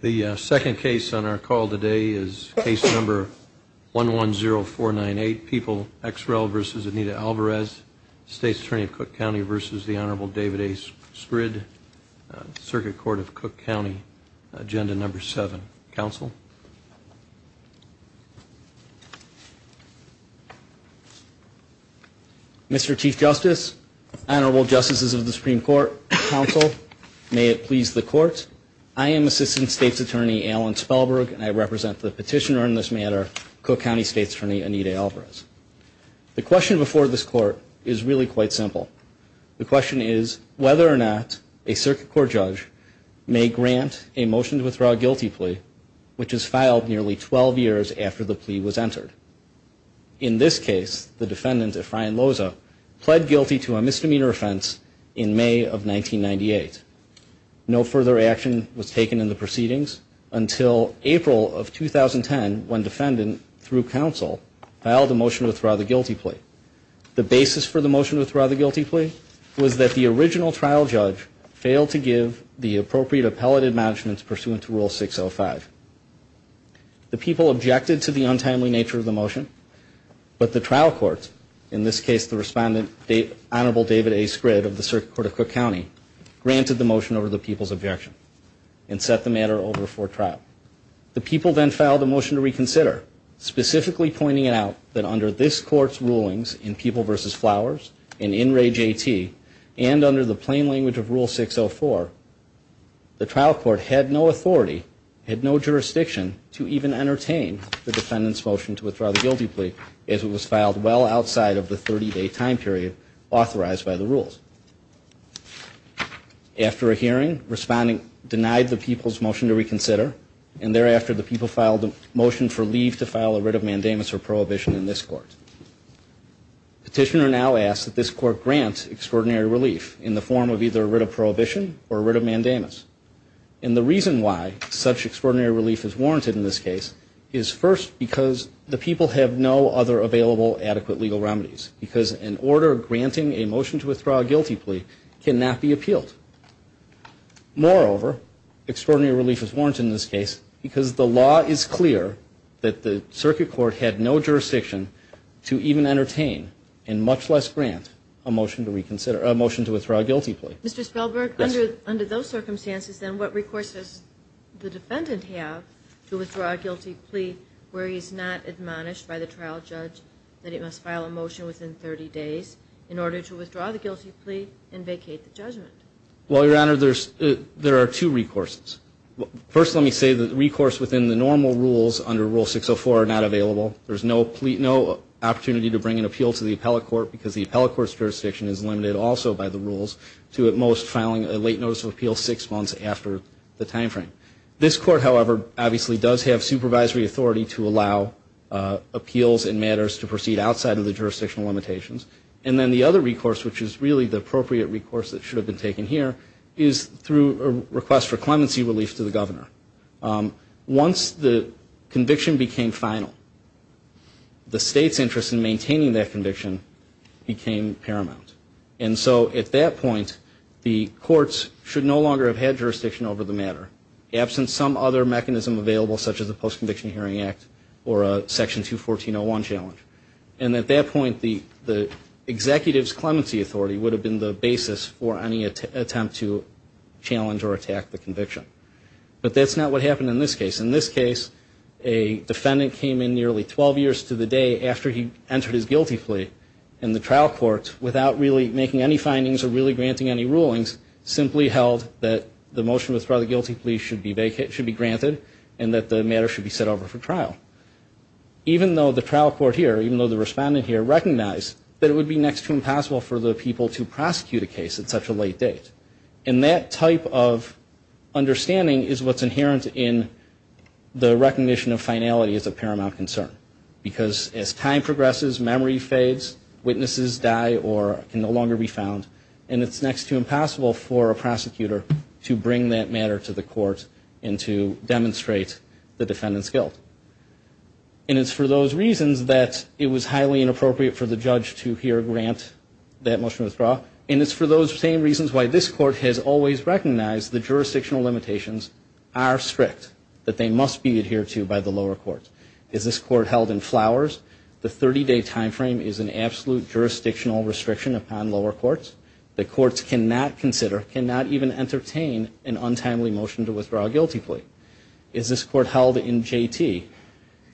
The second case on our call today is case number one one zero four nine eight people ex rel versus Anita Alvarez State's Attorney of Cook County versus the Honorable David A. Skryd, Circuit Court of Cook County, agenda number seven counsel. Mr. Chief Justice, Honorable Justices of the Supreme Court, counsel, may it please the court, I am Assistant State's Attorney Alan Spellberg and I represent the petitioner in this matter, Cook County State's Attorney Anita Alvarez. The question before this court is really quite simple. The question is whether or not a circuit court judge may grant a motion to withdraw a guilty plea which is filed nearly 12 years after the plea was entered. In this case the defendant, Efrain Loza, pled guilty to a misdemeanor offense in May of 1998. No further action was taken in the proceedings until April of 2010 when defendant, through counsel, filed a motion to withdraw the guilty plea. The basis for the motion to withdraw the guilty plea was that the original trial judge failed to give the appropriate appellate admonishments pursuant to rule 605. The people objected to the untimely nature of the motion but the trial court, in this case the respondent, Honorable David A. Skryd of the motion over the people's objection and set the matter over for trial. The people then filed a motion to reconsider, specifically pointing out that under this court's rulings in People vs. Flowers and in Ray JT and under the plain language of rule 604, the trial court had no authority, had no jurisdiction to even entertain the defendant's motion to withdraw the guilty plea as it was filed well outside of the 30-day time period authorized by the rules. After a hearing, respondent denied the people's motion to reconsider and thereafter the people filed a motion for leave to file a writ of mandamus or prohibition in this court. Petitioner now asks that this court grant extraordinary relief in the form of either a writ of prohibition or a writ of mandamus. And the reason why such extraordinary relief is warranted in this case is first because the people have no other available adequate legal remedies because an order granting a motion to withdraw a guilty plea cannot be appealed. Moreover, extraordinary relief is warranted in this case because the law is clear that the circuit court had no jurisdiction to even entertain and much less grant a motion to reconsider, a motion to withdraw a guilty plea. Mr. Spelberg, under those circumstances then what recourse does the defendant have to withdraw a guilty plea where he's not admonished by the trial judge that he must file a motion within 30 days in order to withdraw the guilty plea and vacate the judgment? Well, Your Honor, there are two recourses. First, let me say that recourse within the normal rules under Rule 604 are not available. There's no opportunity to bring an appeal to the appellate court because the appellate court's jurisdiction is limited also by the rules to at most filing a late notice of appeal six months after the time frame. This court, however, obviously does have supervisory authority to allow appeals and matters to proceed outside of the jurisdictional limitations. And then the other recourse, which is really the appropriate recourse that should have been taken here, is through a request for clemency relief to the governor. Once the conviction became final, the state's interest in maintaining that conviction became paramount. And so at that point, the courts should no longer have had another mechanism available such as the Post-Conviction Hearing Act or a Section 214.01 challenge. And at that point, the executive's clemency authority would have been the basis for any attempt to challenge or attack the conviction. But that's not what happened in this case. In this case, a defendant came in nearly 12 years to the day after he entered his guilty plea in the trial court without really making any findings or really granting any rulings, simply held that the matter should be set over for trial. Even though the trial court here, even though the respondent here, recognized that it would be next to impossible for the people to prosecute a case at such a late date. And that type of understanding is what's inherent in the recognition of finality as a paramount concern. Because as time progresses, memory fades, witnesses die or can no longer be found, and it's next to impossible for a prosecutor to bring that matter to the court to demonstrate the defendant's guilt. And it's for those reasons that it was highly inappropriate for the judge to here grant that motion to withdraw. And it's for those same reasons why this court has always recognized the jurisdictional limitations are strict, that they must be adhered to by the lower court. Is this court held in flowers? The 30-day time frame is an absolute jurisdictional restriction upon lower courts. The courts cannot consider, cannot even entertain an untimely motion to withdraw a guilty plea. Is this court held in JT?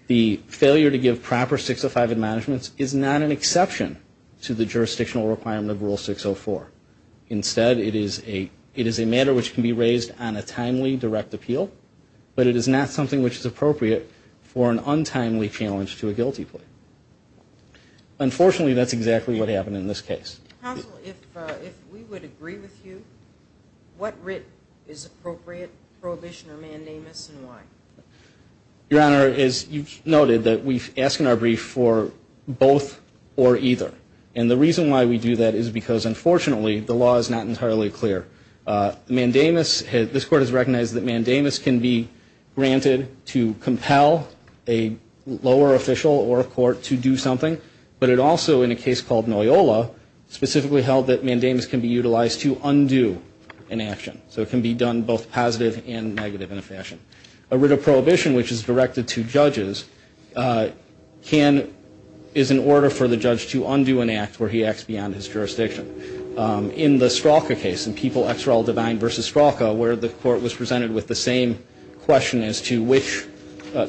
The failure to give proper 605 in management is not an exception to the jurisdictional requirement of Rule 604. Instead, it is a matter which can be raised on a timely direct appeal, but it is not something which is appropriate for an untimely challenge to a guilty plea. Unfortunately, that's exactly what happened in this case. Counsel, if we would agree with you, what writ is appropriate, prohibition or mandamus, and why? Your Honor, as you've noted, that we've asked in our brief for both or either. And the reason why we do that is because, unfortunately, the law is not entirely clear. Mandamus, this court has recognized that mandamus can be granted to compel a lower official or a court to do something. But it also, in a case called Noyola, specifically held that mandamus can be utilized to undo an action. So it can be done both positive and negative in a fashion. A writ of prohibition, which is directed to judges, can, is in order for the judge to undo an act where he acts beyond his jurisdiction. In the Stralka case, in People, Ex Real, Divine versus Stralka, where the court was presented with the same question as to which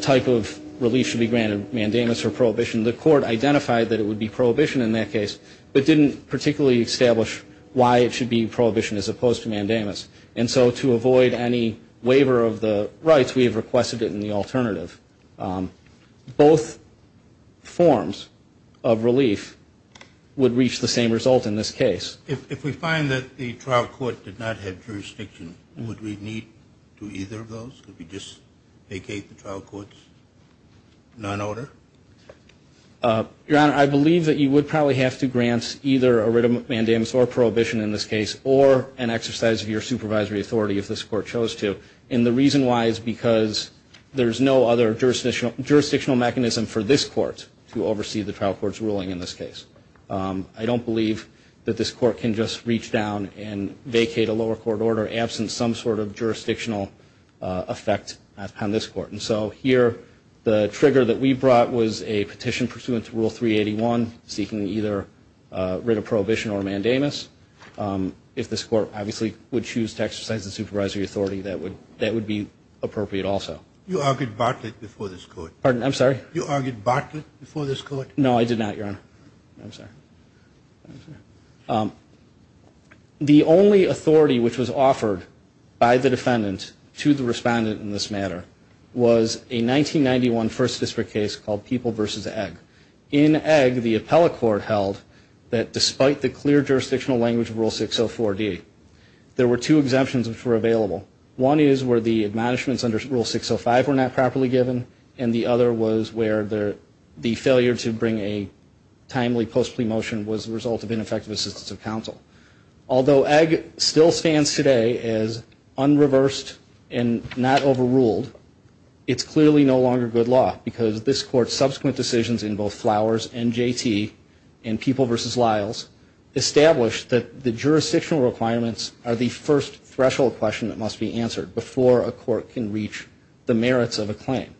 type of relief should be granted, mandamus or prohibition, the court identified that it would be prohibition in that case, but didn't particularly establish why it should be prohibition as opposed to mandamus. And so to avoid any waiver of the rights, we have requested it in the alternative. Both forms of relief would reach the same result in this case. If we find that the trial court did not have jurisdiction, would we need to either of those? Could we just vacate the trial court's non-order? Your Honor, I believe that you would probably have to grant either a writ of mandamus or prohibition in this case, or an exercise of your supervisory authority if this court chose to. And the reason why is because there's no other jurisdictional mechanism for this court to oversee the trial court's ruling in this case. I don't believe that this court can just reach down and vacate a lower court order absent some sort of jurisdictional effect on this court. And so here, the trigger that we brought was a petition pursuant to Rule 381, seeking either a writ of prohibition or mandamus. If this court, obviously, would choose to exercise the supervisory authority, that would be appropriate also. You argued Bartlett before this court. Pardon? I'm sorry? You argued Bartlett before this court? No, I did not, Your Honor. I'm sorry. The only authority which was offered by the defendant to the respondent in this matter was a 1991 First District case called People v. Egg. In Egg, the appellate court held that despite the clear jurisdictional language of Rule 604-D, there were two exemptions which were available. One is where the admonishments under Rule 605 were not properly given, and the other was where the failure to bring a timely post-plea motion was the result of ineffective assistance of counsel. Although Egg still stands today as unreversed and not overruled, it's clearly no longer good law because this court's subsequent decisions in both Flowers and J.T. and People v. Lyles established that the jurisdictional requirements are the first threshold question that must be answered before a court can reach the merits of a claim.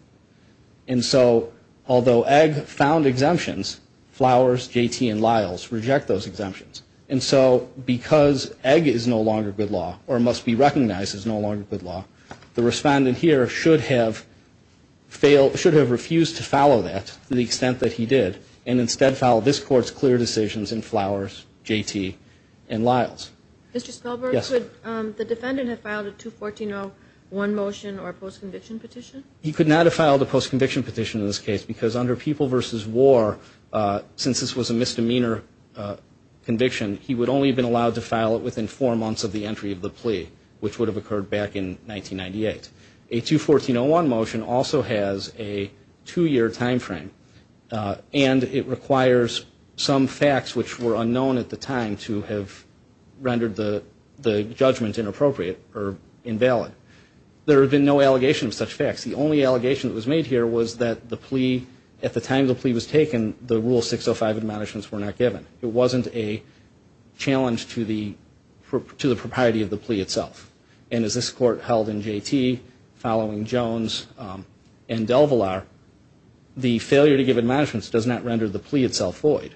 And so, although Egg found exemptions, Flowers, J.T., and Lyles reject those exemptions. And so, because Egg is no longer good law, or must be recognized as no longer good law, the respondent here should have refused to follow that to the extent that he did, and instead followed this court's clear decisions in Flowers, J.T., and Lyles. Mr. Spellberg, could the defendant have filed a 214-01 motion or post-conviction petition? He could not have filed a post-conviction petition in this case because under People v. War, since this was a misdemeanor conviction, he would only have been allowed to file it within four months of the entry of the plea, which would have occurred back in 1998. A 214-01 motion also has a two-year timeframe, and it requires some facts which were unknown at the time to have rendered the judgment inappropriate or invalid. There have been no allegations of such facts. The only allegation that was made here was that the plea, at the time the plea was taken, the Rule 605 admonishments were not given. It wasn't a challenge to the propriety of the plea itself. And as this court held in J.T., following Jones and DelVillar, the failure to give admonishments does not render the plea itself void.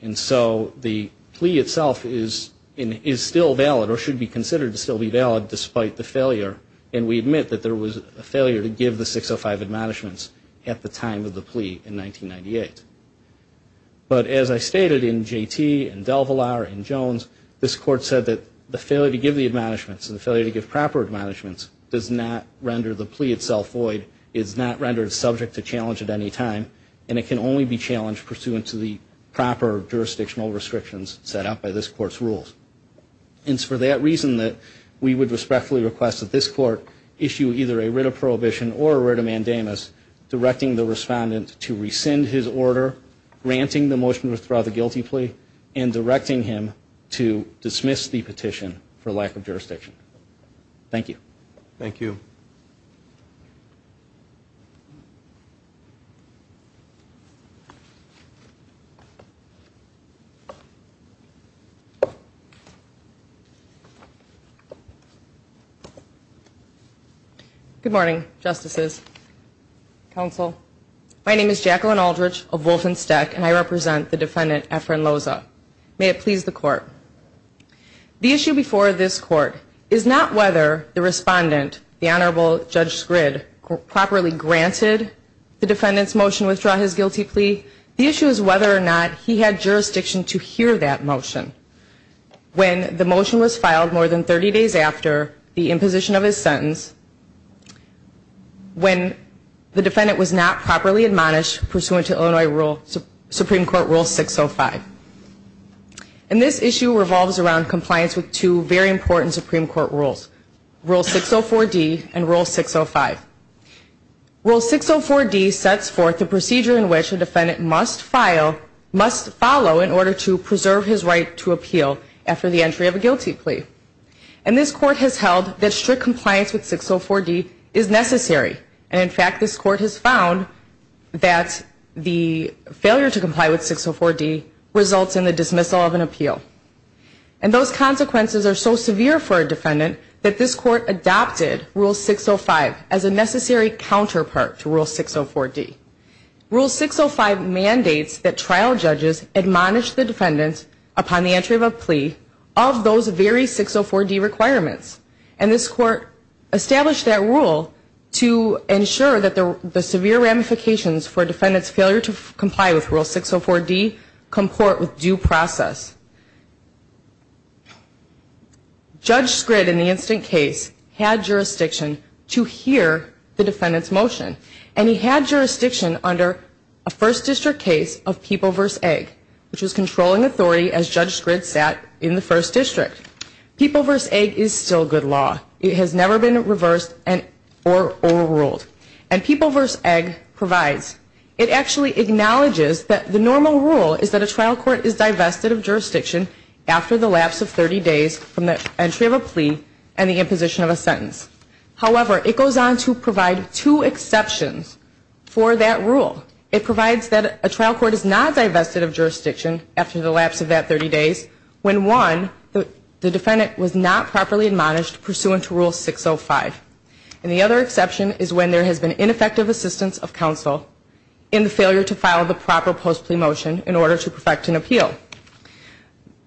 And so, the plea itself is still valid, or should be considered to still be valid, despite the failure. And we admit that there was a failure to give the 605 admonishments at the time of the plea in 1998. But as I stated in J.T. and DelVillar and Jones, this court said that the failure to give the admonishments and the failure to give proper admonishments does not render the plea itself void, is not rendered subject to challenge at any time, and it can only be challenged pursuant to the proper jurisdictional restrictions set out by this court's rules. And it's for that reason that we would respectfully request that this court issue either a writ of prohibition or a writ of mandamus directing the respondent to rescind his order, granting the motion to withdraw the guilty plea, and directing him to dismiss the petition for lack of jurisdiction. Thank you. Thank you. Good morning, Justices. Counsel. My name is Jacqueline Aldrich of Wolfenstech, and I represent the defendant, Efren Loza. May it please the court. The issue before this court is not whether the respondent, the Honorable Judge Sgrid, properly granted the defendant's motion to withdraw his guilty plea. The issue is whether or not he had jurisdiction to hear that motion when the motion was filed more than 30 days after the imposition of his sentence, when the defendant was not properly admonished pursuant to Illinois rule, Supreme Court Rule 605. And this issue revolves around compliance with two very important Supreme Court rules, Rule 604D and Rule 605. Rule 604D sets forth the procedure in which a defendant must file, must follow in order to preserve his right to appeal after the entry of a guilty plea. And this court has held that strict compliance with 604D is necessary. And in fact, this court has found that the 604D results in the dismissal of an appeal. And those consequences are so severe for a defendant that this court adopted Rule 605 as a necessary counterpart to Rule 604D. Rule 605 mandates that trial judges admonish the defendant upon the entry of a plea of those very 604D requirements. And this court established that rule to ensure that the severe ramifications for Rule 604D comport with due process. Judge Scrid, in the instant case, had jurisdiction to hear the defendant's motion. And he had jurisdiction under a First District case of People v. Egg, which was controlling authority as Judge Scrid sat in the First District. People v. Egg is still good law. It has never been reversed or overruled. And People v. Egg provides. It actually acknowledges that the normal rule is that a trial court is divested of jurisdiction after the lapse of 30 days from the entry of a plea and the imposition of a sentence. However, it goes on to provide two exceptions for that rule. It provides that a trial court is not divested of jurisdiction after the lapse of that 30 days when, one, the defendant was not properly admonished pursuant to Rule 605. And the other exception is when there has been ineffective assistance of counsel in the failure to file the proper post-plea motion in order to perfect an appeal.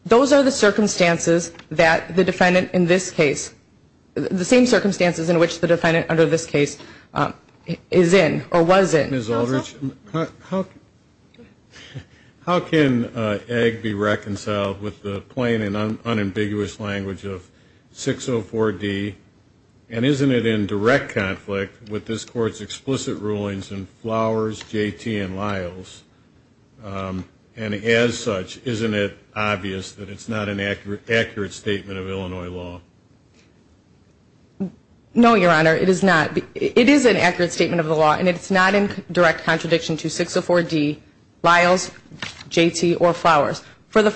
Those are the circumstances that the defendant in this case, the same circumstances in which the defendant under this case is in or was in. Ms. Aldrich, how can Egg be reconciled with the plain and unambiguous language of 604D? And isn't it in direct conflict with this Court's explicit rulings in Flowers, J.T., and Lyles? And as such, isn't it obvious that it's not an accurate statement of Illinois law? No, Your Honor, it is not. It is an accurate statement of the law, and it's not in direct contradiction to 604D, Lyles, J.T., or Flowers for the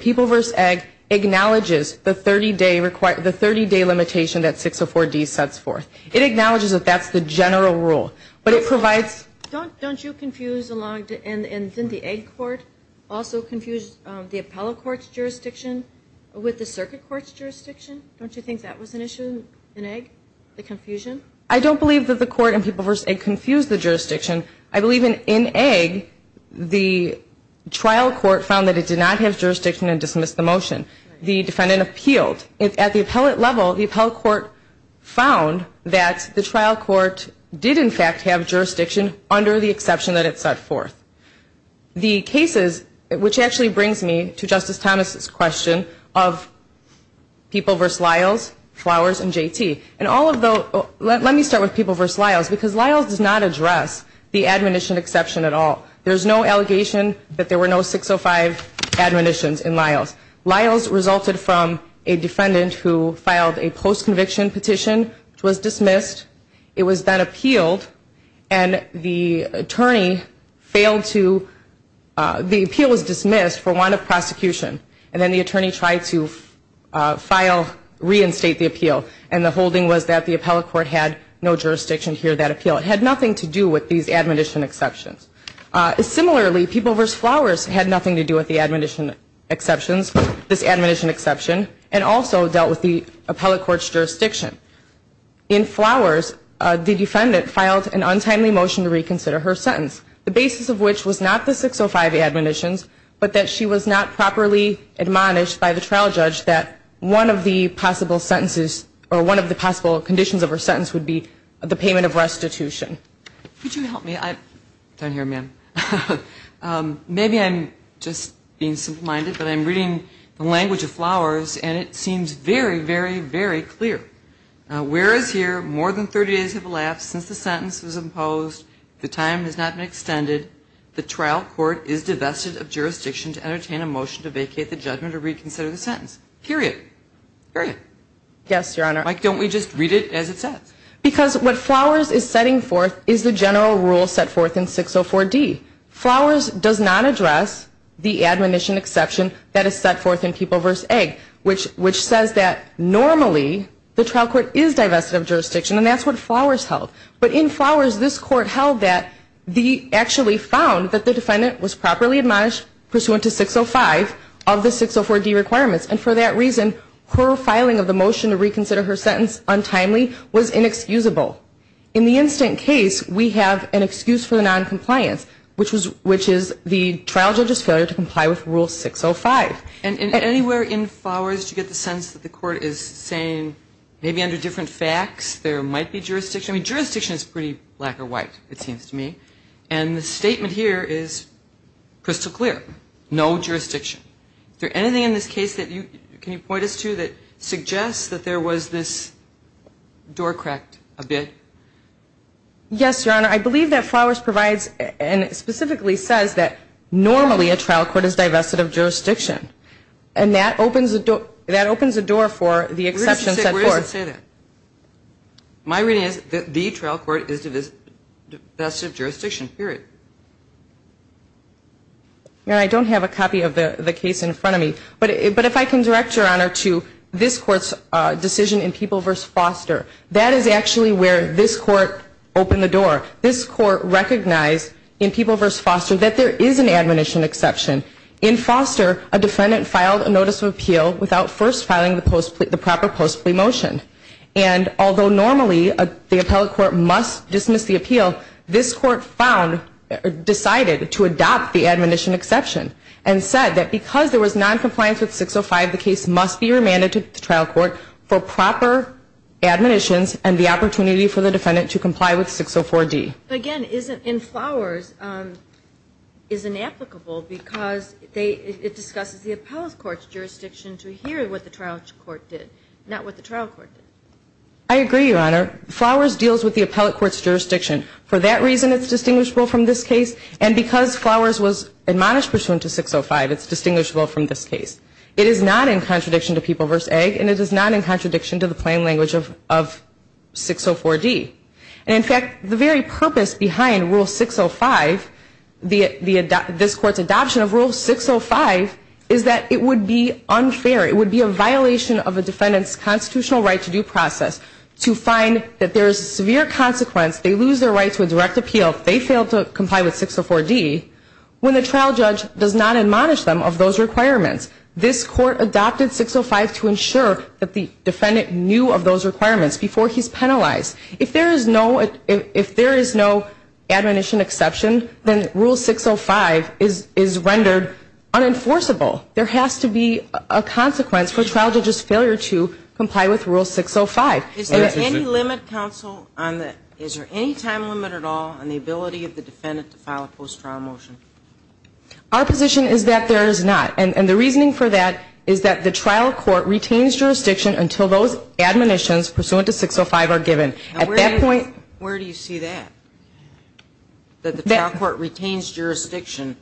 people v. Egg acknowledges the 30-day limitation that 604D sets forth. It acknowledges that that's the general rule, but it provides Don't you confuse along, and didn't the Egg court also confuse the appellate court's jurisdiction with the circuit court's jurisdiction? Don't you think that was an issue in Egg, the confusion? I don't believe that the court in people v. Egg confused the jurisdiction. I believe in Egg, the trial court found that it did not have jurisdiction and dismissed the motion. The defendant appealed. At the appellate level, the appellate court found that the trial court did, in fact, have jurisdiction under the exception that it set forth. The cases, which actually brings me to Justice Thomas's question of people v. Lyles, Flowers, and J.T. And all of those, let me start with people v. Lyles, because Lyles does not have the admonition exception at all. There's no allegation that there were no 605 admonitions in Lyles. Lyles resulted from a defendant who filed a post-conviction petition, which was dismissed. It was then appealed, and the attorney failed to, the appeal was dismissed for want of prosecution. And then the attorney tried to file, reinstate the appeal. And the holding was that the appellate court had no jurisdiction to hear that appeal. It had nothing to do with these admonition exceptions. Similarly, people v. Flowers had nothing to do with the admonition exceptions, this admonition exception, and also dealt with the appellate court's jurisdiction. In Flowers, the defendant filed an untimely motion to reconsider her sentence, the basis of which was not the 605 admonitions, but that she was not properly admonished by the trial judge that one of the possible sentences, or one of the possible conditions of her sentence, would be the payment of restitution. Could you help me? I'm down here, ma'am. Maybe I'm just being simple-minded, but I'm reading the language of Flowers, and it seems very, very, very clear. Whereas here, more than 30 days have elapsed since the sentence was imposed, the time has not been extended, the trial court is divested of jurisdiction to entertain a motion to vacate the judgment or reconsider the sentence. Period. Period. Yes, Your Honor. Mike, don't we just read it as it says? Because what Flowers is setting forth is the general rule set forth in 604D. Flowers does not address the admonition exception that is set forth in People v. Egg, which says that normally the trial court is divested of jurisdiction, and that's what Flowers held. But in Flowers, this Court held that the actually found that the defendant was properly admonished pursuant to 605 of the 604D requirements, and for that reason, her filing of the motion to reconsider her sentence untimely was inexcusable. In the instant case, we have an excuse for the noncompliance, which is the trial judge's failure to comply with Rule 605. And anywhere in Flowers, you get the sense that the Court is saying maybe under different facts, there might be jurisdiction. I mean, jurisdiction is pretty black or white, it seems to me. And the statement here is crystal clear. No jurisdiction. Is there anything in this case that you can point us to that suggests that there was this door cracked a bit? Yes, Your Honor. I believe that Flowers provides and specifically says that normally a trial court is divested of jurisdiction. And that opens a door for the exception set forth. Where does it say that? My reading is that the trial court is divested of jurisdiction, period. Your Honor, I don't have a copy of the case in front of me. But if I can direct Your Honor to this Court's decision in People v. Foster, that is actually where this Court opened the door. This Court recognized in People v. Foster that there is an admonition exception. In Foster, a defendant filed a notice of appeal without first filing the proper post-plea motion. And although normally the appellate court must dismiss the appeal, this Court decided to adopt the admonition exception and said that because there was noncompliance with 605, the case must be remanded to the trial court for proper admonitions and the opportunity for the defendant to comply with 604D. But again, in Flowers, it's inapplicable because it discusses the appellate court's jurisdiction to hear what the trial court did, not what the trial court did. I agree, Your Honor. Flowers deals with the appellate court's jurisdiction. For that reason, it's distinguishable from this case. And because Flowers was distinguishable from this case, it is not in contradiction to People v. Egg, and it is not in contradiction to the plain language of 604D. And in fact, the very purpose behind Rule 605, this Court's adoption of Rule 605, is that it would be unfair, it would be a violation of a defendant's constitutional right to due process to find that there is a severe consequence, they lose their right to a direct appeal if they fail to comply with 604D, when the trial judge does not admonish them of those requirements. This Court adopted 605 to ensure that the defendant knew of those requirements before he's penalized. If there is no admonition exception, then Rule 605 is rendered unenforceable. There has to be a consequence for a trial judge's failure to comply with Rule 605. Is there any time limit at all on the ability of the defendant to file a post-trial motion? Our position is that there is not. And the reasoning for that is that the trial court retains jurisdiction until those admonitions pursuant to 605 are given. At that point... Where do you see that? That the trial court retains jurisdiction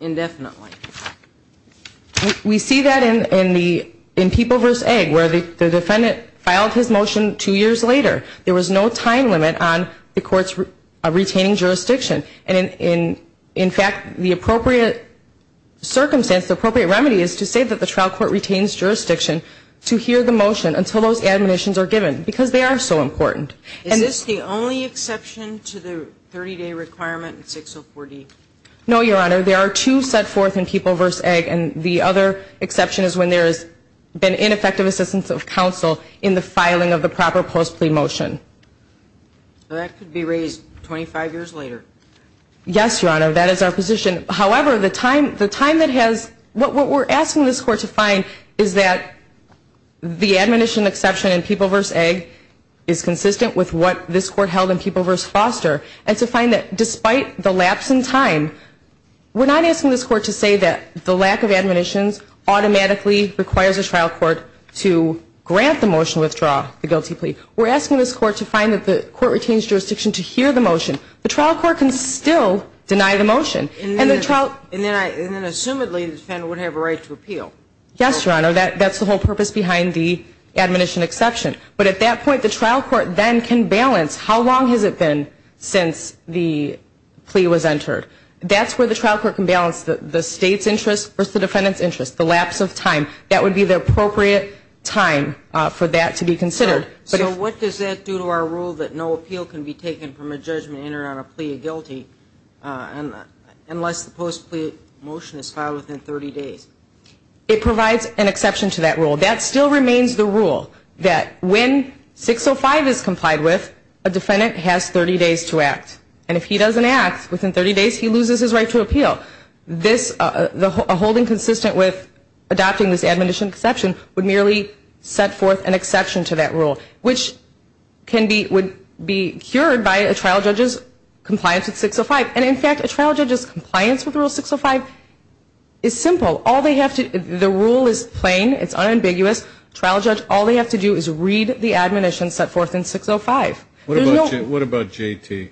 indefinitely? We see that in People v. Egg, where the defendant filed his motion two years later. There was no time limit on the court's retaining jurisdiction. And in fact, the appropriate circumstance, the appropriate remedy is to say that the trial court retains jurisdiction to hear the motion until those admonitions are given, because they are so important. Is this the only exception to the 30-day requirement in 604D? No, Your Honor. There are two set forth in People v. Egg, and the other exception is when there has been ineffective assistance of counsel in the filing of the proper post-plea motion. So that could be raised 25 years later? Yes, Your Honor. That is our position. However, the time that has... What we're asking this Court to find is that the admonition exception in People v. Egg is consistent with what this Court held in People v. Foster. And to find that despite the lapse in time, we're not asking this Court to say that the lack of admonitions automatically requires a trial court to grant the motion to withdraw the guilty plea. We're asking this Court to find that the court retains jurisdiction to hear the motion. The trial court can still deny the motion. And then, assumedly, the defendant would have a right to appeal. Yes, Your Honor. That's the whole purpose behind the admonition exception. But at that point, the trial court then can balance how long has it been since the plea was entered. That's where the trial court can balance the State's interest versus the defendant's interest, the lapse of time. That would be the appropriate time for that to be considered. So what does that do to our rule that no appeal can be taken from a judgment entered on a plea of guilty unless the post-plea motion is filed within 30 days? It provides an exception to that rule. That still remains the rule that when 605 is complied with, a defendant has 30 days to act. And if he doesn't act within 30 days, he loses his right to appeal. This, a holding consistent with adopting this admonition exception would merely set forth an exception to that rule, which can be, would be cured by a trial judge's compliance with 605. And in fact, a trial judge's compliance with Rule 605 is simple. All they have to, the rule is plain. It's unambiguous. Trial judge, all they have to do is read the admonition set forth in 605. What about JT?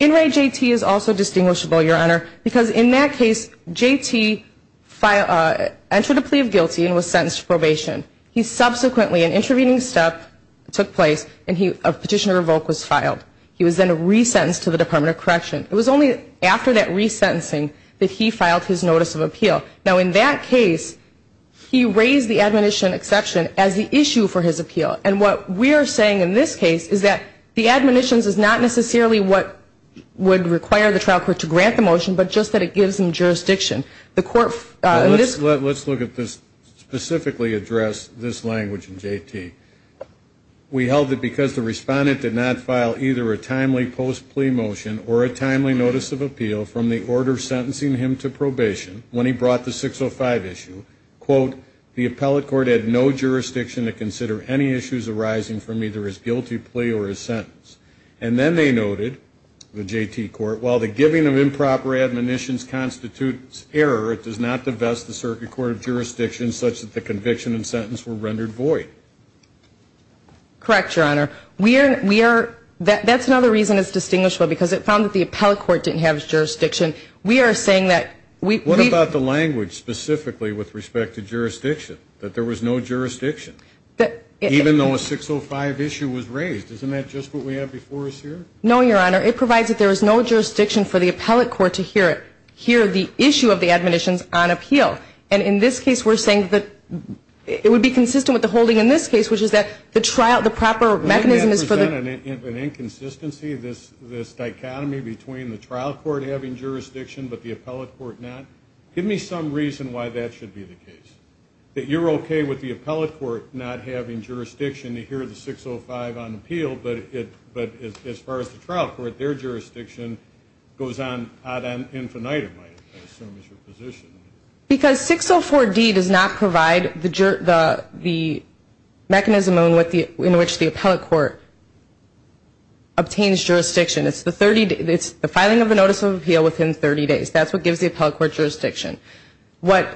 In re JT is also distinguishable, Your Honor, because in that case, JT filed, entered a plea of guilty and was sentenced to probation. He subsequently, an intervening step took place and he, a petition to revoke was filed. He was then resentenced to the Department of Correction. It was only after that resentencing that he filed his notice of appeal. Now in that case, he raised the admonition exception as the issue for his appeal. And what we're saying in this case is that the admonitions is not necessarily what would require the trial court to grant the motion, but just that it gives them jurisdiction. The court in this Well, let's look at this, specifically address this language in JT. We held it because the respondent did not file either a timely post plea motion or a timely notice of appeal from the order sentencing him to probation when he brought the 605 issue. Quote, the appellate court had no jurisdiction to consider any plea or his sentence. And then they noted, the JT court, while the giving of improper admonitions constitutes error, it does not divest the circuit court of jurisdiction such that the conviction and sentence were rendered void. Correct, Your Honor. We are, we are, that's another reason it's distinguishable because it found that the appellate court didn't have jurisdiction. We are saying that we What about the language specifically with respect to jurisdiction, that there was no jurisdiction, even though a 605 issue was raised. Isn't that just what we have before us here? No, Your Honor. It provides that there is no jurisdiction for the appellate court to hear it, hear the issue of the admonitions on appeal. And in this case, we're saying that it would be consistent with the holding in this case, which is that the trial, the proper mechanism is for the Doesn't that present an inconsistency, this dichotomy between the trial court having jurisdiction but the appellate court not? Give me some reason why that should be the case. That you're okay with the appellate court not having jurisdiction to hear the 605 on appeal, but as far as the trial court, their jurisdiction goes on ad infinitum, I assume is your position. Because 604D does not provide the mechanism in which the appellate court obtains jurisdiction. It's the filing of a notice of appeal within 30 days. That's what gives the appellate court jurisdiction. What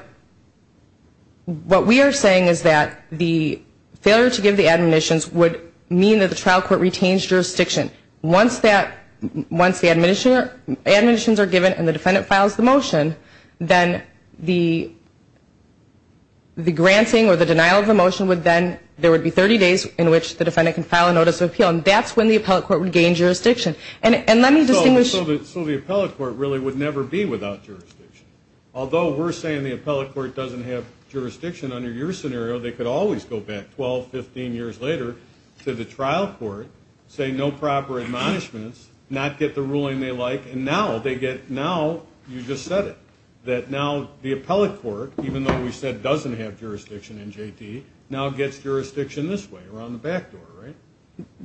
we are saying is that the failure to give the admonitions would mean that the trial court retains jurisdiction. Once the admonitions are given and the defendant files the motion, then the granting or the denial of the motion would then, there would be 30 days in which the defendant can file a notice of appeal. And that's when the appellate court would gain jurisdiction. And let me distinguish So the appellate court really would never be without jurisdiction. Although we're saying the appellate court doesn't have jurisdiction under your scenario, they could always go back 12, 15 years later to the trial court, say no proper admonishments, not get the ruling they like, and now they get, now you just said it. That now the appellate court, even though we said doesn't have jurisdiction in JT, now gets jurisdiction this way, around the back door, right?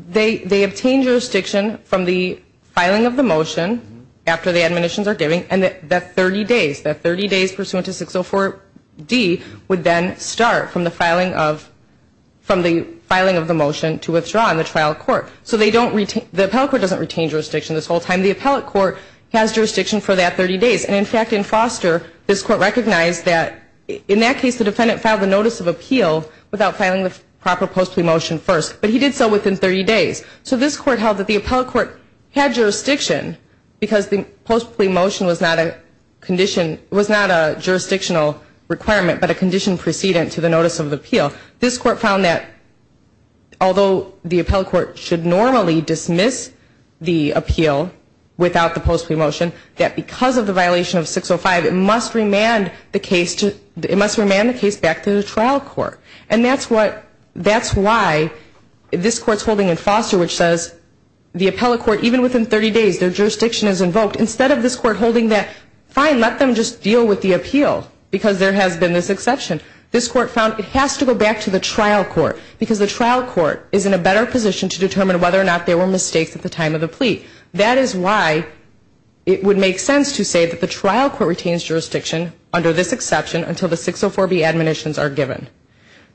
They obtain jurisdiction from the filing of the motion after the admonitions are given, and that 30 days, that 30 days pursuant to 604D would then start from the filing of, from the filing of the motion to withdraw in the trial court. So they don't retain, the appellate court doesn't retain jurisdiction this whole time. The appellate court has jurisdiction for that 30 days. And in fact, in Foster, this court recognized that in that case the defendant filed the notice of appeal without filing the proper post plea motion first. But he did so within 30 days. So this court held that the appellate court had jurisdiction because the post plea motion was not a condition, was not a jurisdictional requirement, but a condition precedent to the notice of appeal. This court found that although the appellate court should normally dismiss the appeal without the post plea motion, that because of the violation of 605, it must remand the case to, it must remand the case back to the trial court. And that's what, that's why this court's holding in Foster, which says the appellate court, even within 30 days, their jurisdiction is invoked. Instead of this court holding that, fine, let them just deal with the appeal because there has been this exception. This court found it has to go back to the trial court because the trial court is in a better position to determine whether or not there were mistakes at the time of the plea. That is why it would make sense to say that the trial court retains jurisdiction under this exception until the 604B admonitions are given.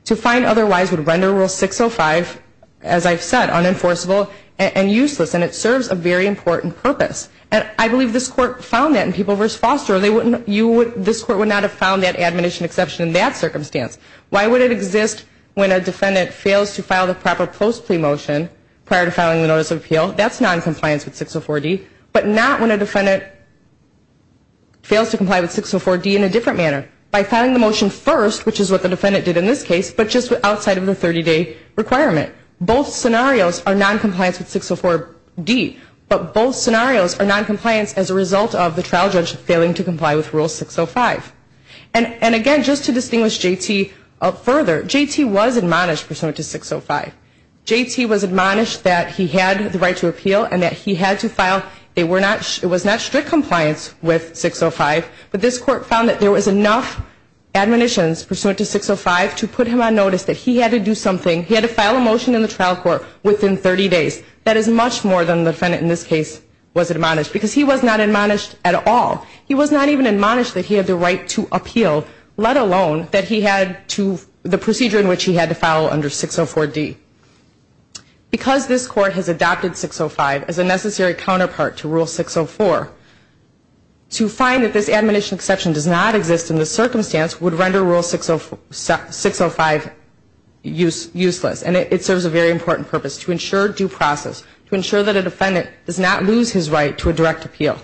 To find otherwise would render Rule 605, as I've said, unenforceable and useless. And it serves a very important purpose. And I believe this court found that in People v. Foster. They wouldn't, you would, this court would not have found that admonition exception in that circumstance. Why would it exist when a defendant fails to file the proper post plea motion prior to filing the notice of appeal? That's noncompliance with 604D. But not when a defendant fails to comply with 604D in a different manner. By filing the motion first, which is what the court found to be the case, the trial judge fails to comply with Rule 605. And again, just to distinguish J.T. further, J.T. was admonished pursuant to 605. J.T. was admonished that he had the right to appeal and that he had to file, they were not, it was not strict compliance with 605. But this court found that there was enough admonitions pursuant to 605 to put him on notice that he had to file a motion in the trial court within 30 days. That is much more than the defendant in this case was admonished. Because he was not admonished at all. He was not even admonished that he had the right to appeal, let alone that he had to, the procedure in which he had to file under 604D. Because this court has adopted 605 as a necessary counterpart to Rule 604, to find that this admonition exception does not exist in this circumstance would render Rule 605 useless. And it serves a very important purpose, to ensure due process, to ensure that a defendant does not lose his right to a direct appeal.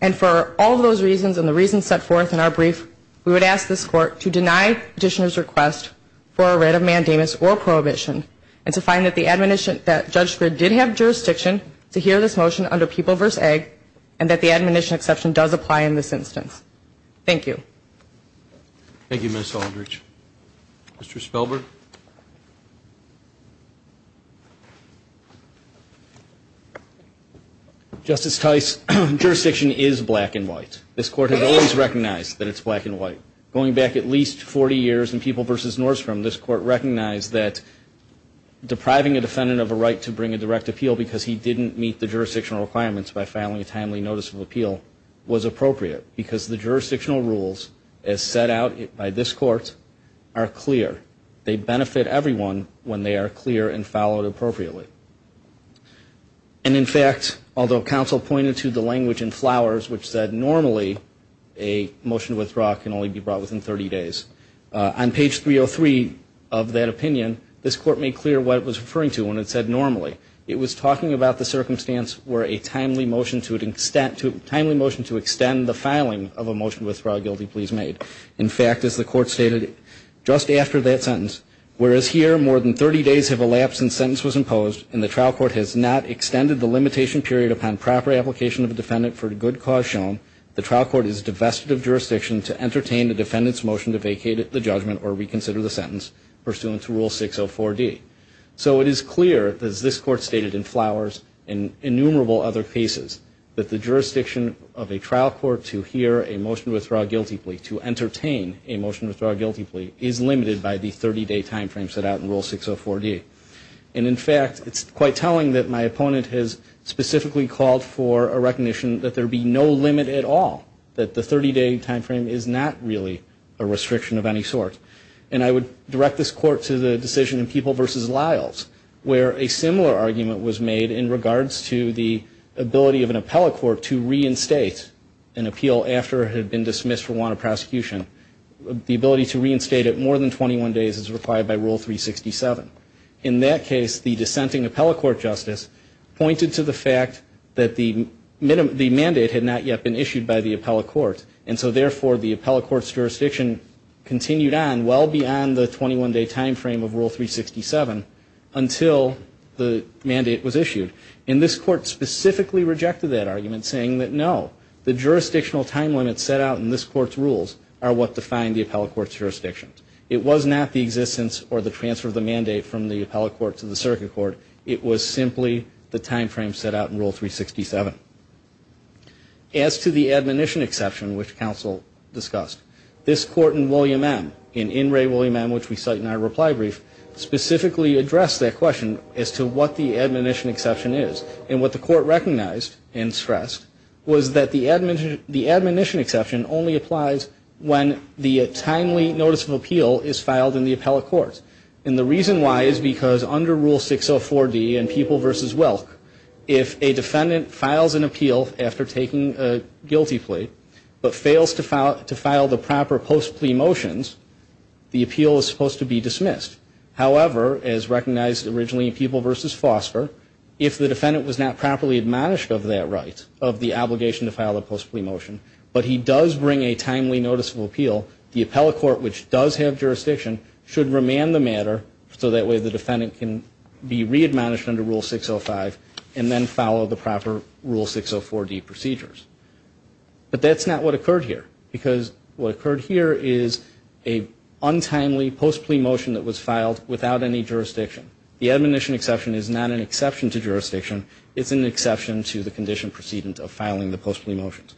And for all those reasons and the reasons set forth in our brief, we would ask this court to deny petitioner's request for a writ of mandamus or prohibition and to find that the admonition, that Judge Scrid did have jurisdiction to hear this motion under People v. Egg and that the admonition exception does apply in this instance. Thank you. Thank you, Ms. Aldridge. Mr. Spellberg. Justice Tice, jurisdiction is black and white. This court has always recognized that it's black and white. Going back at least 40 years in People v. Norscom, this court recognized that depriving a defendant of a right to bring a direct appeal because he didn't meet the jurisdictional requirements by filing a timely notice of appeal was appropriate because the jurisdictional rules, as set out by this court, are clear. They benefit everyone when they are clear and followed appropriately. And in fact, although counsel pointed to the language in Flowers, which said normally a motion to withdraw can only be brought within 30 days, on page 303 of that opinion, this court made clear what it was referring to when it said normally. It was talking about the circumstance where a timely motion to extend the filing of a motion to withdraw a guilty plea is made. In fact, as the court stated just after that sentence, whereas here more than 30 days have elapsed since sentence was imposed and the trial court has not extended the limitation period upon proper application of a defendant for a good cause shown, the trial court is divested of jurisdiction to entertain the defendant's motion to vacate the judgment or reconsider the sentence pursuant to Rule 604D. So it is clear, as this court stated in Flowers and innumerable other cases, that the jurisdiction of a trial court to hear a motion to withdraw a guilty plea, to entertain a motion to withdraw a guilty plea, is limited by the 30-day time frame set out in Rule 604D. And in fact, it's quite telling that my opponent has specifically called for a recognition that there be no limit at all, that the 30-day time frame is not really a restriction of any sort. And I would direct this court to the decision in People v. Lyles where a similar argument was made in regards to the ability of an appellate court to reinstate an appeal after it had been dismissed for want of prosecution. The ability to reinstate it more than 21 days is required by Rule 367. In that case, the dissenting appellate court justice pointed to the fact that the mandate had not yet been issued by the appellate court. And so therefore, the appellate court's jurisdiction continued on well beyond the 21-day time frame of Rule 367 until the mandate was issued. And this court specifically rejected that argument, saying that no, the jurisdictional time limits set out in this court's rules are what define the appellate court's jurisdictions. It was not the existence or the transfer of the mandate from the appellate court to the circuit court. It was simply the time frame set out in Rule 367. As to the admonition exception which counsel discussed, this court in William M., in his brief, specifically addressed that question as to what the admonition exception is. And what the court recognized and stressed was that the admonition exception only applies when the timely notice of appeal is filed in the appellate court. And the reason why is because under Rule 604D in People v. Welk, if a defendant files an appeal after taking a guilty plea but fails to file the proper post-plea motions, the appeal is supposed to be dismissed. However, as recognized originally in People v. Foster, if the defendant was not properly admonished of that right, of the obligation to file a post-plea motion, but he does bring a timely notice of appeal, the appellate court which does have jurisdiction should remand the matter so that way the defendant can be re-admonished under Rule 605 and then follow the proper Rule 604D procedures. But that's not what occurred here. Because what occurred here is a untimely post-plea motion that was filed without any jurisdiction. The admonition exception is not an exception to jurisdiction. It's an exception to the condition precedent of filing the post-plea motions.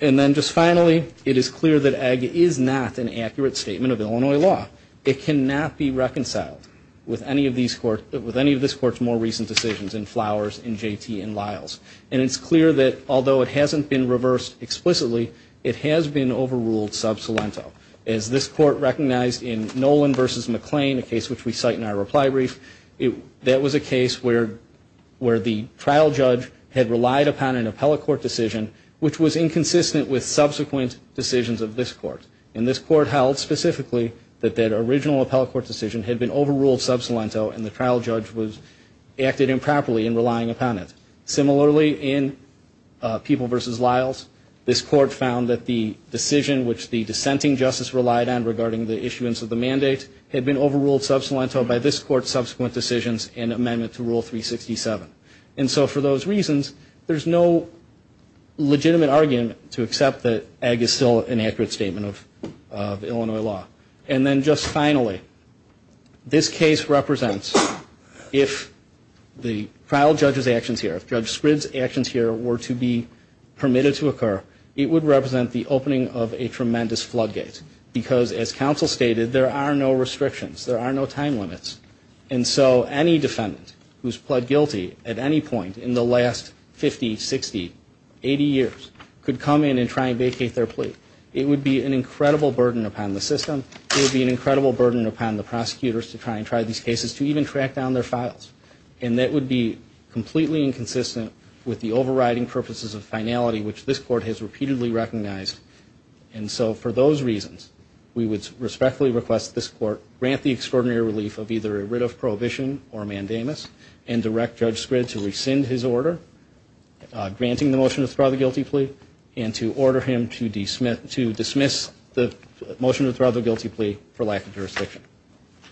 And then just finally, it is clear that AG is not an accurate statement of Illinois law. It cannot be reconciled with any of these courts, with any of this court's more recent decisions in Flowers, in JT, in Lyles. And it's clear that although it hasn't been overruled sub salento, as this court recognized in Nolan v. McClain, a case which we cite in our reply brief, that was a case where the trial judge had relied upon an appellate court decision which was inconsistent with subsequent decisions of this court. And this court held specifically that that original appellate court decision had been overruled sub salento and the trial judge acted improperly in relying upon it. Similarly, in People v. Lyles, this court found that the decision which the dissenting justice relied on regarding the issuance of the mandate had been overruled sub salento by this court's subsequent decisions and amendment to Rule 367. And so for those reasons, there's no legitimate argument to accept that AG is still an accurate statement of Illinois law. And then just finally, this case represents if the trial judge's actions here, if Judge Spridd's actions here were to be permitted to occur, it would represent the opening of a tremendous floodgate. Because as counsel stated, there are no restrictions. There are no time limits. And so any defendant who's pled guilty at any point in the last 50, 60, 80 years could come in and try and vacate their plea. It would be an incredible burden upon the system. It would be an incredible burden upon the prosecutors to try and try these cases, to even track down their files. And that would be completely inconsistent with the overriding purposes of finality which this court has repeatedly recognized. And so for those reasons, we would respectfully request this court grant the extraordinary relief of either a writ of prohibition or mandamus and direct Judge Spridd to rescind his order granting the motion to withdraw the guilty plea and to order him to dismiss the motion to withdraw the guilty plea for lack of jurisdiction.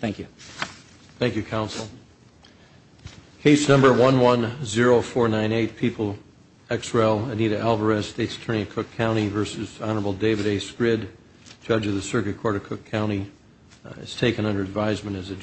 Thank you. Thank you, counsel. Case number 110498, People X. Rel. Anita Alvarez, State's Attorney of Cook County v. Honorable David A. Spridd, Judge of the Circuit Court of Cook County is taken under advisement as a judge.